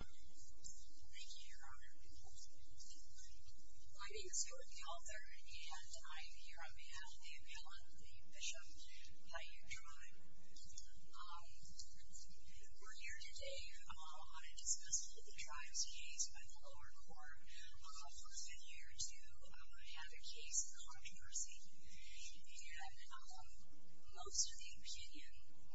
Thank you, Your Honor. My name is Dorothy Alter, and I'm here on behalf of the Appellant, the Bishop, Paiute Tribe. We're here today on a dismissal of the Tribe's case by the lower court. We've been here to have a case controversy, and most of the opinion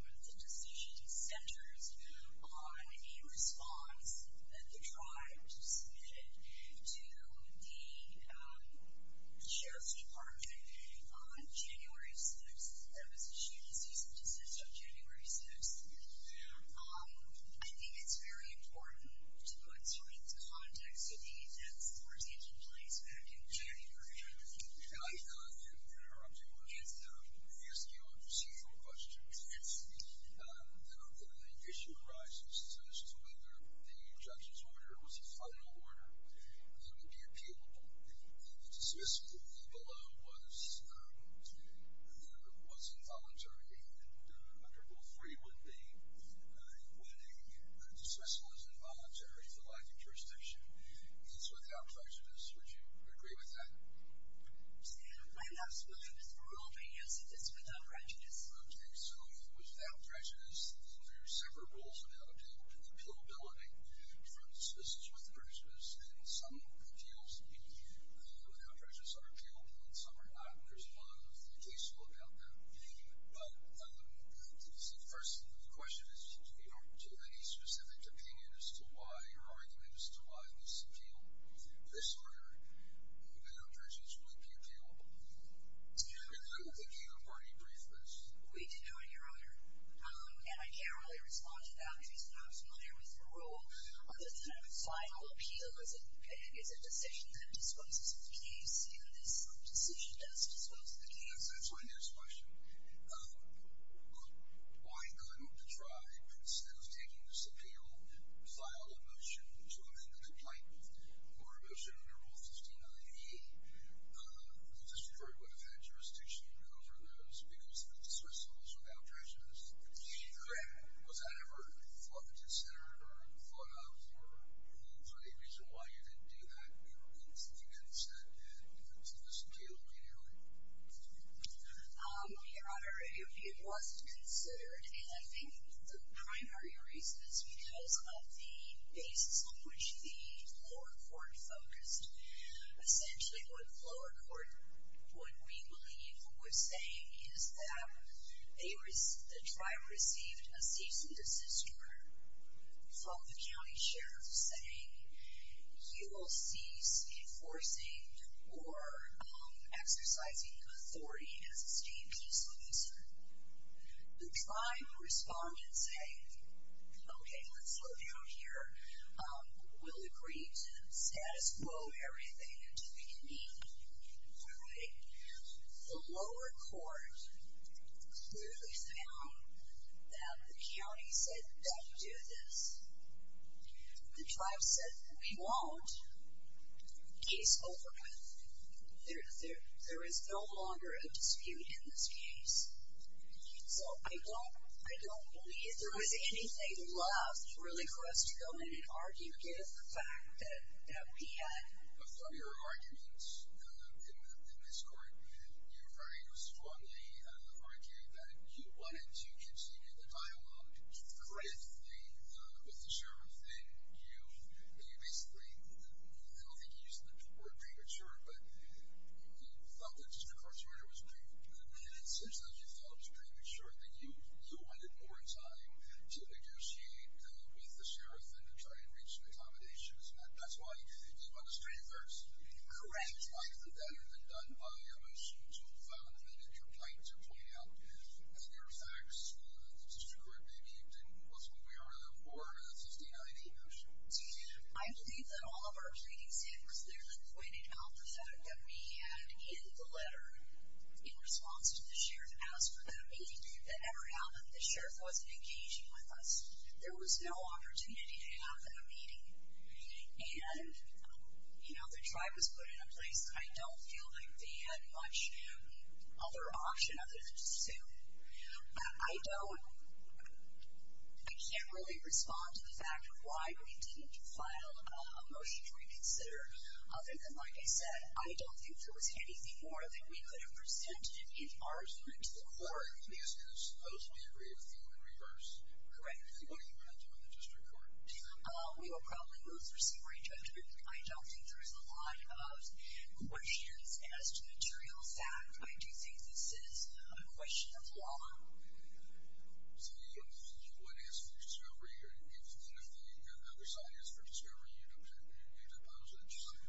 on the decision centers on a response that the Tribe submitted to the Sheriff's Department on January 6th. There was a shooting-decision decision on January 6th. I think it's very important to put some of these contexts of the events that were taking place back in January. And I thought that, Your Honor, I'm too much to ask you procedural questions. The issue arises as to whether the judge's order was a final order that would be appealable. The dismissal below was involuntary, and under Rule 3 would be quitting a dismissal as involuntary for lack of jurisdiction. It's without prejudice. Would you agree with that? My last motion is for Rule 3 as it is without prejudice. Okay, so it was without prejudice. There are several rules about appealability from dismissals with prejudice. And some appeals without prejudice are appealable, and some are not. There's a lot of case law about that. But, first, the question is, do you have any specific opinion as to why, or argument as to why, this appeal, this order, without prejudice, would be appealable? And I will give you a very brief list. We do, Your Honor. And I can't really respond to that because I'm not familiar with the rule. The final appeal is a decision that disposes of the case, and this decision does dispose of the case. That's my next question. Why couldn't the tribe, instead of taking this appeal, file a motion to amend the complaint with the court? Or a motion under Rule 15-98 that just referred to a defense jurisdiction, and those are those because the dismissals were without prejudice. Correct. Was that ever thought to consider, or thought of, for any reason why you didn't do that? I don't think it was ever thought of. I think it was considered, and I think the primary reason is because of the basis on which the lower court focused. Essentially, what the lower court, what we believe, what we're saying is that the tribe received a cease and desist order from the county sheriff, saying you will cease enforcing or exercising authority as a state police officer. The tribe responded saying, okay, let's slow down here. We'll agree to status quo everything until we can meet. The lower court clearly found that the county said don't do this. The tribe said we won't. Case over. There is no longer a dispute in this case. So I don't believe there is anything left really for us to go in and argue with the fact that we had- You basically, I don't think you used the word premature, but you felt that just incarcerated was premature. Essentially, as you felt it was premature, that you wanted more time to negotiate with the sheriff than to try and reach an accommodation. That's why you did it on the street first. Correct. The tribe said that had been done by us. You found that your claims were pointed out to us. Are there facts that the district maybe didn't question we were there for 59 years? I believe that all of our pleadings, it was clearly pointed out the fact that we had in the letter, in response to the sheriff, asked for that meeting to ever happen. The sheriff wasn't engaging with us. There was no opportunity to have that meeting. And, you know, the tribe was put in a place. I don't feel like they had much other option other than to sue. But I don't, I can't really respond to the fact of why we didn't file a motion to reconsider. Other than, like I said, I don't think there was anything more that we could have presented in argument. Or at least it was supposed to be a reappeal in reverse. Correct. What are you going to do in the district court? We will probably move through some range. But I don't think there is a lot of questions as to material fact. I do think this is a question of law. So you wouldn't ask for discovery? And if the other side asked for discovery, you don't have anything to oppose it?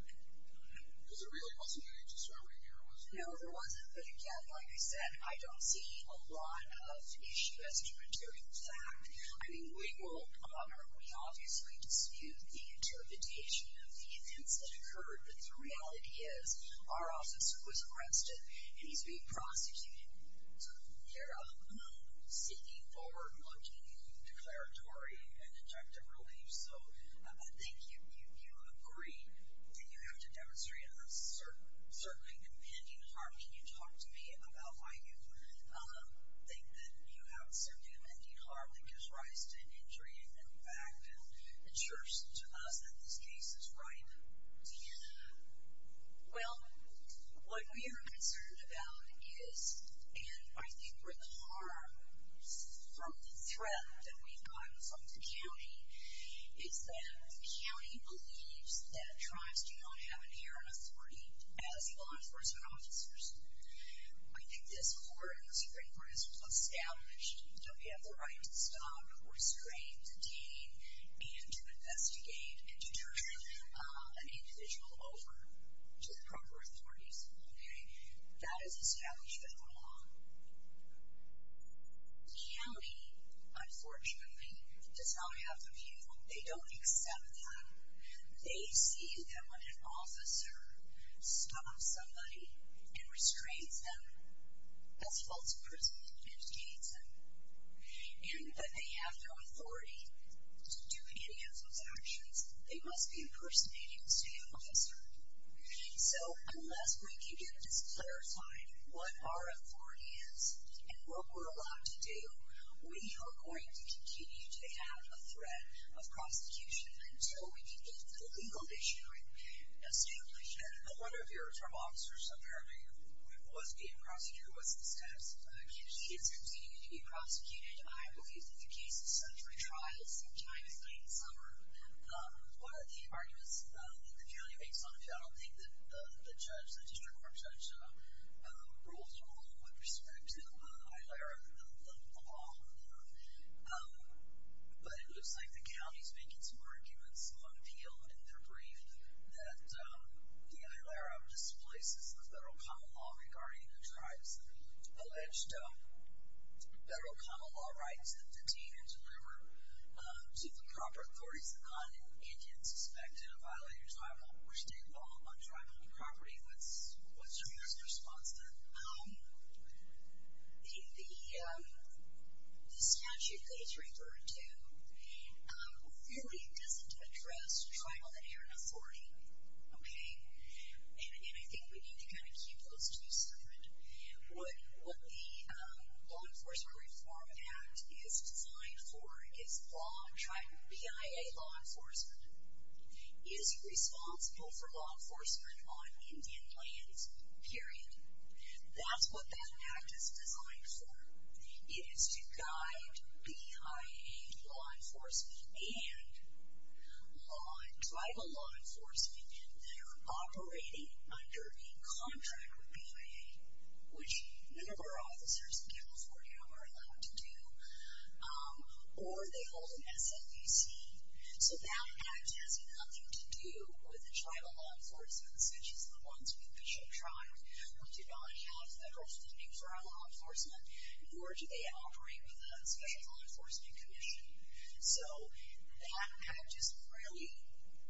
Because there really wasn't any discovery here, was there? No, there wasn't. But, again, like I said, I don't see a lot of issue as to material fact. I mean, we will, we obviously dispute the interpretation of the events that occurred. But the reality is, our officer was arrested, and he's being prosecuted. So they're seeking forward-looking declaratory and objective relief. So I think you agree that you have to demonstrate a certainly impending harm. Can you talk to me about why you think that you have a certain impending harm that gives rise to an injury and then back down? It shows to us that this case is ripe. Yeah. Well, what we are concerned about is, and I think where the harm is from the threat that we've gotten from the county, is that the county believes that tribes do not have inherent authority as law enforcement officers. I think this court in the Supreme Court has established that we have the right to stop, restrain, detain, and to investigate and to turn an individual over to the proper authorities. Okay? That is established in the law. The county, unfortunately, does not have the view. They don't accept that. They see that when an officer stops somebody and restrains them as a false person and detains them, and that they have no authority to do any of those actions, they must be impersonated as an officer. So unless we can get this clarified, what our authority is and what we're allowed to do, we are going to continue to have a threat of prosecution until we can get the legal issue established. And one of your tribe officers, apparently, was being prosecuted. What's his status? He is continuing to be prosecuted, I believe, in the case of century trials sometime in late summer. One of the arguments that the county makes on it, I don't think that the judge, the district court judge, rules it wrong with respect to HILERA, the law. But it looks like the county is making some arguments on appeal in their brief that the HILERA displaces the federal common law regarding the tribes' alleged federal common law rights that detain and deliver to the proper authorities an Indian suspected of violating tribal or state law on tribal property. Okay, what's your response to that? The statute that he's referring to really doesn't address tribal and area authority. Okay? And I think we need to kind of keep those two separate. What the Law Enforcement Reform Act is defined for is PIA law enforcement is responsible for law enforcement on Indian lands, period. That's what that act is designed for. It is to guide PIA law enforcement and tribal law enforcement that are operating under a contract with PIA, which none of our officers in California are allowed to do, or they hold an SMUC. So that act has nothing to do with the tribal law enforcement, such as the ones we've been shown trying, who do not have federal funding for our law enforcement, nor do they operate with a special law enforcement commission. So that act is really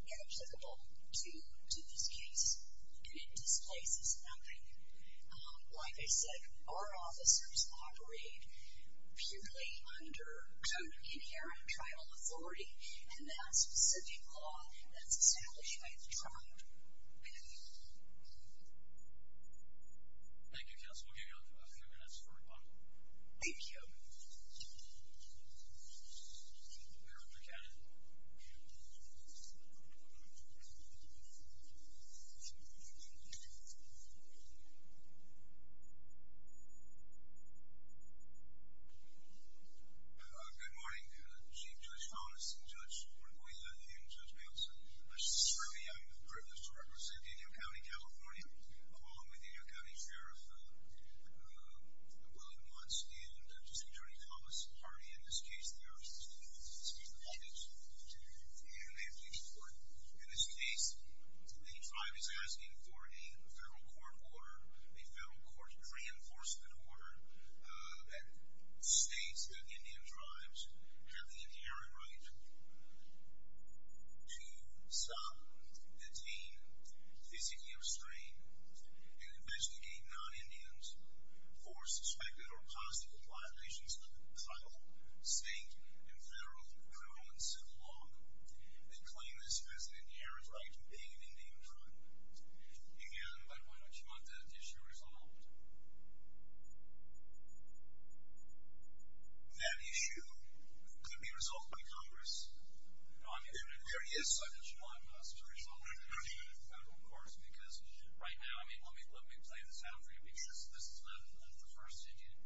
inapplicable to this case, and it displaces nothing. Like I said, our officers operate purely under inherent tribal authority, and that specific law that's established by the tribe. Thank you, Councilwoman Gayle. We'll give you a few minutes for rebuttal. Thank you. We are adjourned. Good morning, Chief Judge Thomas, and Judge Ruiz, and Judge Belson. It's a privilege to represent Indian County, California, along with the Indian County Sheriff, William Munce, and District Attorney Thomas Hardy. In this case, there are six defendants, and they've reached court. In this case, the tribe is asking for a federal court order, a federal court reinforcement order that states that Indian tribes have the inherent right to stop, detain, physically restrain, and investigate non-Indians for suspected or possible violations of the title, state, and federal approval in civil law. They claim this has an inherent right to being an Indian tribe. Again, I'd like you to want that issue resolved. That issue could be resolved by Congress. There is such a law as a result of a federal court, because right now, I mean, let me play this out for you, because this is not the first Indian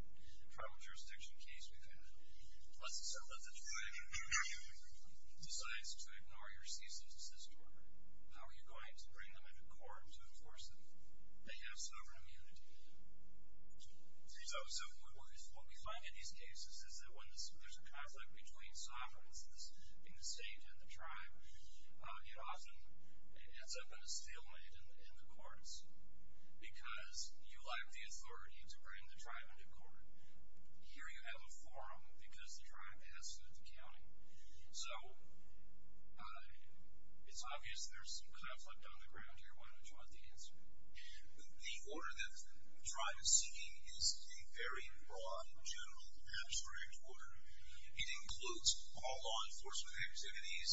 tribal jurisdiction case we've had. Let's assume that the tribe decides to ignore your cease and desist order. How are you going to bring them into court to enforce that you have sovereign immunity? See, so what we find in these cases is that when there's a conflict between sovereigns in the state and the tribe, it often ends up in a stalemate in the courts, because you lack the authority to bring the tribe into court. Here you have a forum, because the tribe has stood the county. So it's obvious there's some conflict on the ground here. Why don't you want the answer? The order that the tribe is seeking is a very broad, general, abstract order. It includes all law enforcement activities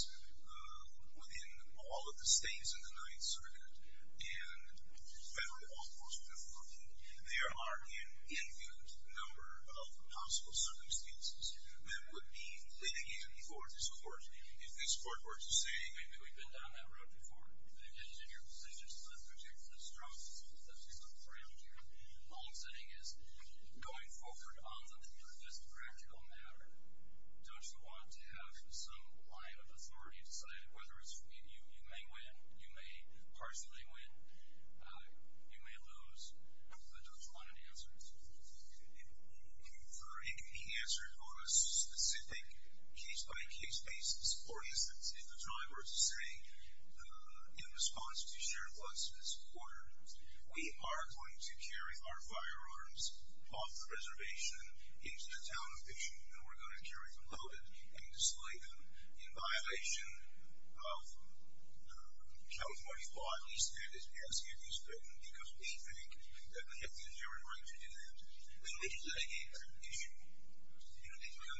within all of the states in the 9th Circuit and federal law enforcement. There are an infinite number of possible circumstances that would be including you before this court. If this court were to say... Maybe we've been down that road before. Maybe it's in your decision to protect the strong citizens that we've looked around here. All I'm saying is, going forward, often for this practical matter, don't you want to have some line of authority deciding whether you may win, you may partially win, you may lose, but don't you want an answer? It could be answered on a specific case-by-case basis. For instance, if the tribe were to say, in response to Sheriff Lutz this quarter, we are going to carry our firearms off the reservation into the town of Ditching, and we're going to carry them loaded and display them in violation of California's law, at least that is what we're asking of you, because we think that we have the inherent right to do that. Then would you litigate that issue? We don't know what this court is litigating. How are you going to do that, with respect? They have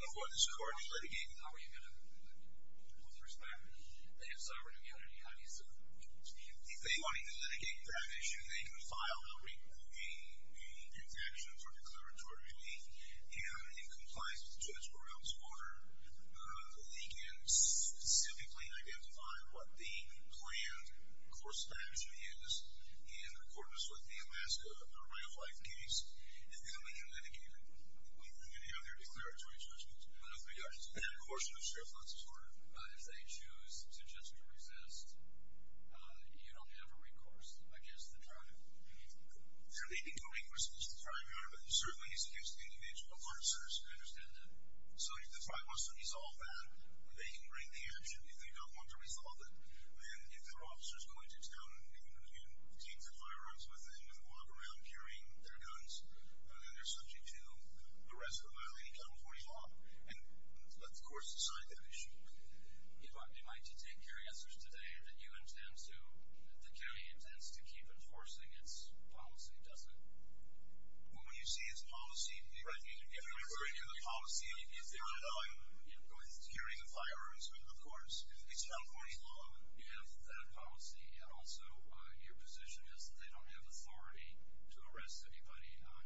sovereign immunity. If they wanted to litigate that issue, they could file a reproving action for declaratory plea, and in compliance with Judge Royal's order, they can specifically identify what the planned course of action is in accordance with the Alaska Rail Flight case, and then they can litigate it. With any other declaratory judgment? With regard to the planned course of Sheriff Lutz's order, if they choose to just resist, you don't have a recourse against the tribe. They're leading to a recourse against the tribe, Your Honor, but certainly he's accused the individual officers. I understand that. So if the tribe wants to resolve that, they can bring the action. If they don't want to resolve it, then if their officer is going to town and they're going to get teams of firearms with them and walk around carrying their guns, then they're subject to the rest of the violating California law, and the courts decide that issue. You want me, Mike, to take your answers today or do you intend to... The county intends to keep enforcing its policy, does it? Well, when you see its policy... Right. If you're referring to the policy, if they want to go ahead and carry the firearms, of course, it's California law. You have that policy, and also your position is that they don't have authority to arrest anybody on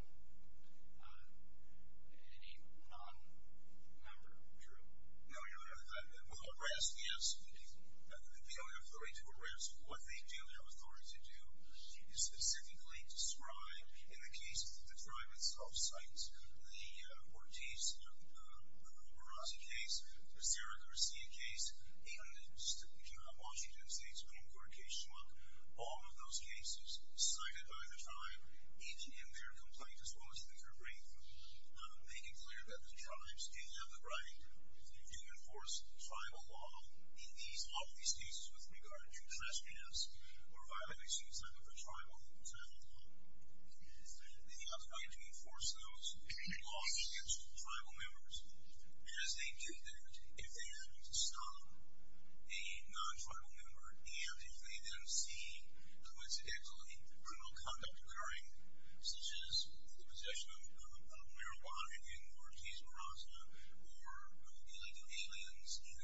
any non-member group. No, Your Honor. Well, arrest, yes. They don't have authority to arrest. What they do have authority to do is specifically described in the cases that the tribe itself cites. The Ortiz-Urrazi case, the Sarah Garcia case, the Washington State Supreme Court case, all of those cases cited by the tribe, each in their complaint as well as in their brief, making clear that the tribes did have the right to enforce tribal law in all of these cases with regard to trespass or violating some type of a tribal law. They have the right to enforce those laws against tribal members as they did then if they happen to stop a non-tribal member, and if they then see coincidental criminal conduct occurring, such as the possession of marijuana in the Ortiz-Urrazi or mobilizing aliens in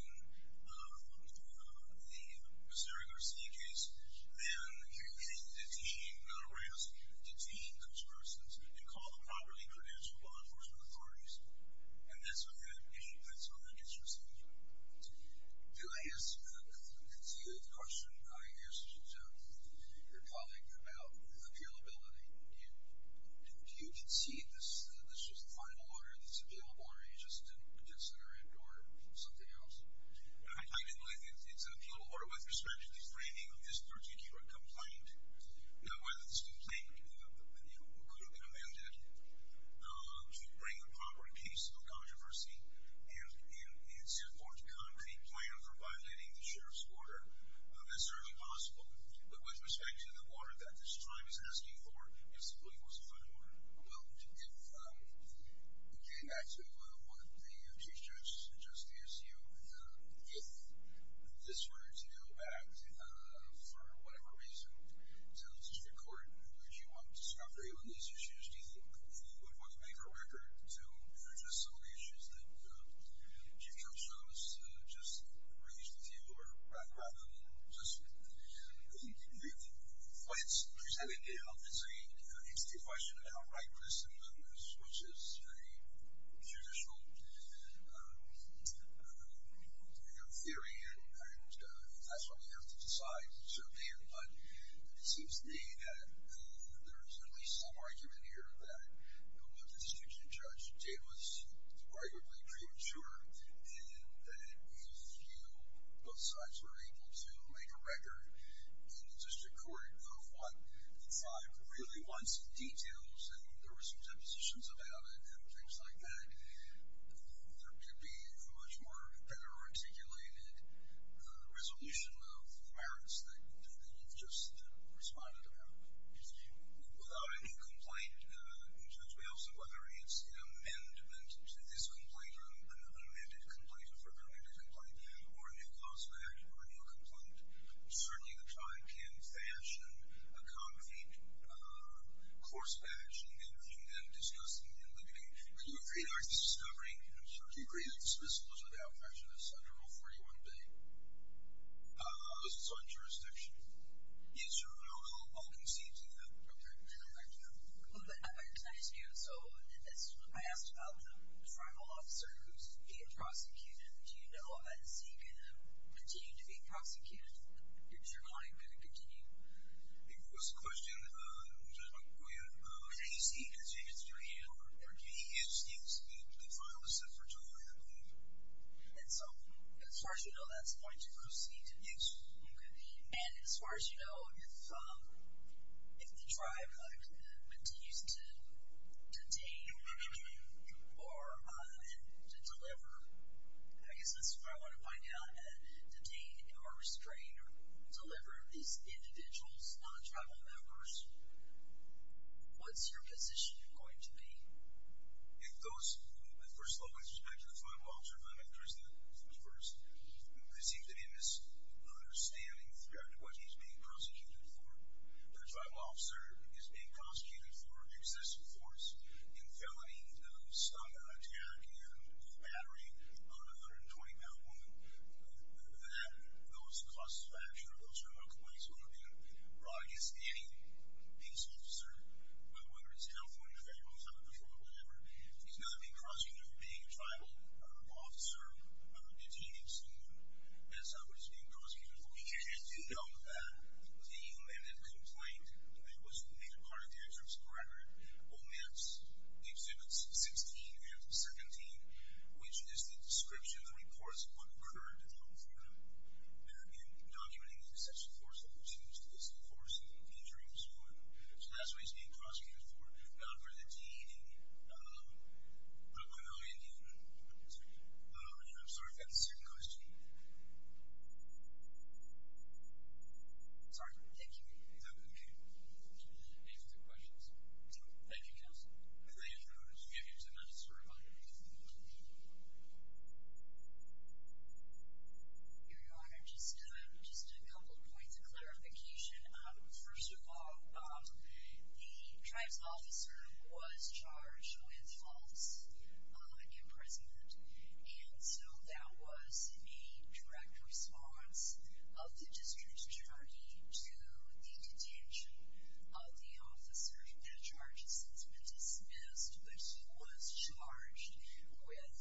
the Sarah Garcia case, then they can detain, not arrest, detain those persons and call the properly credentialed law enforcement authorities. And that's what that gets received. Do I ask a continued question, I guess, to your colleague about appealability? Do you concede that this was the final order, this appealable order, or you just didn't consider it or something else? I mean, it's an appealable order with respect to the framing of this particular complaint, whether this complaint could have been amended to bring a proper case of controversy and set forth a concrete plan for violating the sheriff's order. That's certainly possible. But with respect to the order that this tribe is asking for, it simply wasn't the final order. Well, if we came back to what the U.S. Chief Justice asked you, if this were to go back, for whatever reason, to the district court, would you want discovery on these issues? Do you think you would want to make a record to address some of the issues that Chief Justice just raised with you, or rather than just make complaints? He's having a difficult decision. It's a question of how right this is, which is a judicial theory, and that's what we have to decide, certainly. But it seems to me that there is at least some argument here that what the district judge did was arguably premature, and that if both sides were able to make a record in the district court of what the tribe really wants, the details, and there were some depositions about it and things like that, there could be a much more better articulated resolution of the merits that we've just responded about. Without a new complaint, can you tell us whether it's an amendment to this complaint or an unamended complaint, a further amended complaint, or a new cause of action or a new complaint? Certainly the tribe can fashion a concrete course of action and then discuss it in the beginning. But do you agree that discovery... Do you agree that the submissive was without prejudice under Rule 41b? How does this apply to jurisdiction? Yes, sir. I'll concede to that. Thank you. I recognize you, so I asked about the tribal officer who's being prosecuted. Do you know, as he's going to continue to be prosecuted, is your client going to continue? I think that was the question. I'm sorry, go ahead. As he continues to be prosecuted? Yes, the trial is set for July 11th. And so, as far as you know, that's going to proceed And as far as you know, if the tribe continues to detain or to deliver, I guess that's what I want to find out, detain or restrain or deliver these individuals, non-tribal members, what's your position going to be? If those... First of all, with respect to the tribal officer, if I may, first of all, there seems to be a misunderstanding throughout what he's being prosecuted for. The tribal officer is being prosecuted for excessive force and felony stomping, attacking, and battering on a 120-pound woman. That, though it's in the process of action, or those are my complaints, would have been brought against any police officer, whether it's a health one, a federal one, some patrol or whatever, he's not being prosecuted for being a tribal officer, detaining someone. That's not what he's being prosecuted for. He can't do that. No. The man that complained, it was made a part of the insurance record, omits Exhibits 16 and 17, which is the description of the reports on murder and death of a woman in documenting the excessive force that was used, excessive force, and injuring this woman. So that's what he's being prosecuted for. We've gone for the DEV. We're going to go in here. Yes, sir. I'm sorry, I've got a second question. Sorry. Thank you. Okay. Any further questions? No. Thank you, counsel. If I may, Your Honor, I just want to give you just another story on your case. Your Honor, just a couple points of clarification. First of all, the tribe's officer was charged with false imprisonment, and so that was a direct response of the district attorney to the detention of the officer that charges him to be dismissed, but he was charged with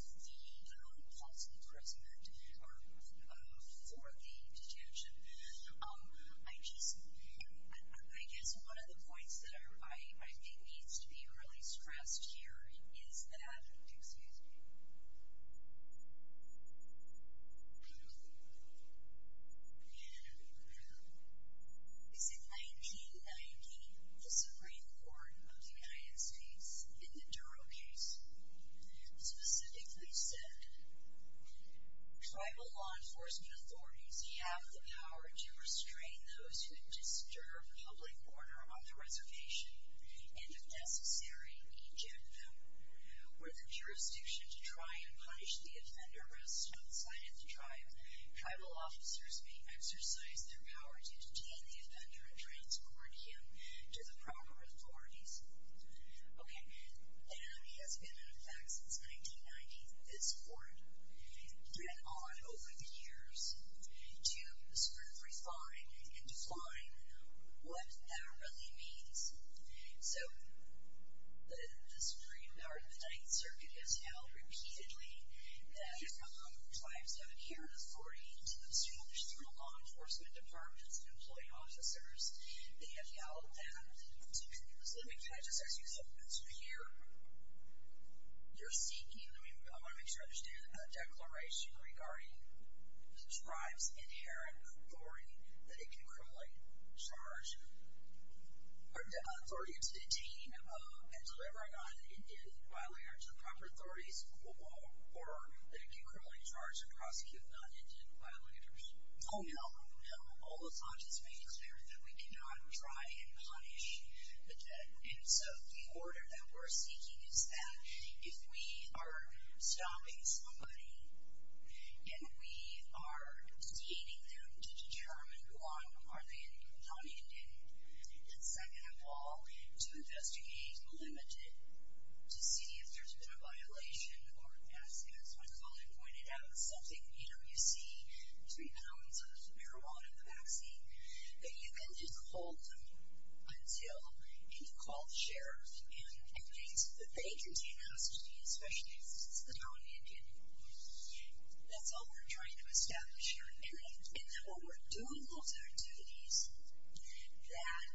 the false imprisonment for the detention. I just, I guess one of the points that I think needs to be really stressed here is that... Excuse me. ...is in 1919, the Supreme Court of the United States in the Duro case specifically said, Tribal law enforcement authorities have the power to restrain those who disturb public order on the reservation, and if necessary, eject them. Where the jurisdiction to try and punish the offender rests outside of the tribe, tribal officers may exercise their power to detain the offender and transport him to the proper authorities. Okay. And it has been in effect since 1990. This court went on over the years to scrutinize and define what that really means. So the Ninth Circuit has held repeatedly that tribal law enforcement tribes have inherent authority to obstruct tribal law enforcement departments and employee officers. They have held that So let me kind of just ask you something. So here, you're seeking, I want to make sure I understand, a declaration regarding the tribe's inherent authority that it can criminally charge or authority to detain and deliver an unindented violator to the proper authorities or that it can criminally charge and prosecute non-indented violators. Oh no, no. All this law just made it clear that we cannot try and punish the dead. And so the order that we're seeking is that if we are stopping somebody and we are detaining them to determine who are they, non-indented, then second of all, to investigate the limited, to see if there's been a violation or ask, as my colleague pointed out, something, you know, you see three pounds of marijuana in the vaccine, that you then just hold them until you call the sheriff and things, but they continue to hostages, especially if it's the non-indented. That's all we're trying to establish here. And that what we're doing, those are activities that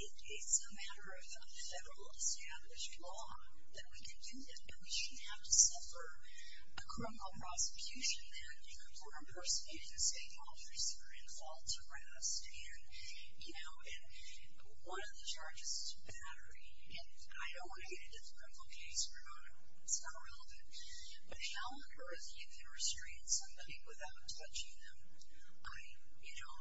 it's a matter of a federal established law that we can do that and we shouldn't have to suffer a criminal prosecution for impersonating the same officers that are involved to arrest and, you know, and one of the charges is to battery. And I don't want to get into the criminal case for marijuana. It's not relevant. But how occurs if you're restraining somebody without touching them? I, you know,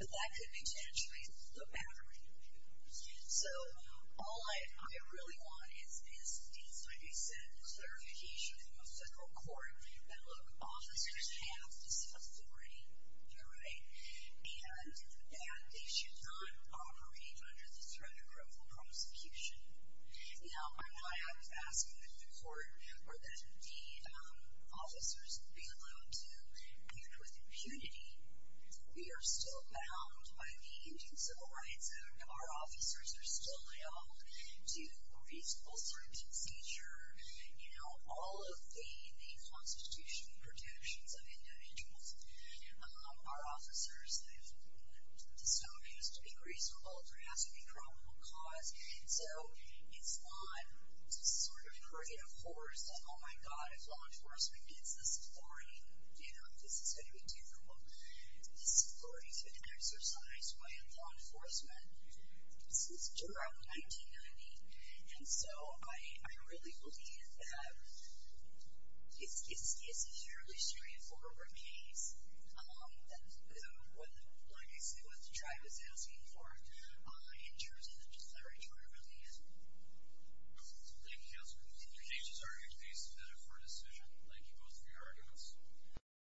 But that could potentially the battery. So all I really want is these, like I said, clarification from a federal court that look, officers have this authority. You're right. And that they should not operate under the threat of criminal prosecution. Now, I'm not asking that the court or that the officers be allowed to act with impunity. We are still bound by the Indian Civil Rights Act. Our officers are still held to reasonable circumstances. By nature, you know, all of the constitutional protections of individuals are officers. The stone has to be greased with oil for it has to be a criminal cause. So it's not this sort of creative horse that, oh my God, if law enforcement gets this authority, you know, this is going to be terrible. This authority has been exercised by law enforcement since around 1990. And so, I really believe that it's a fairly straightforward case. Like I said, what the tribe is asking for in terms of the declaratory relief. Thank you, Counselor. The case is argued based on a fair decision. Thank you both for your arguments.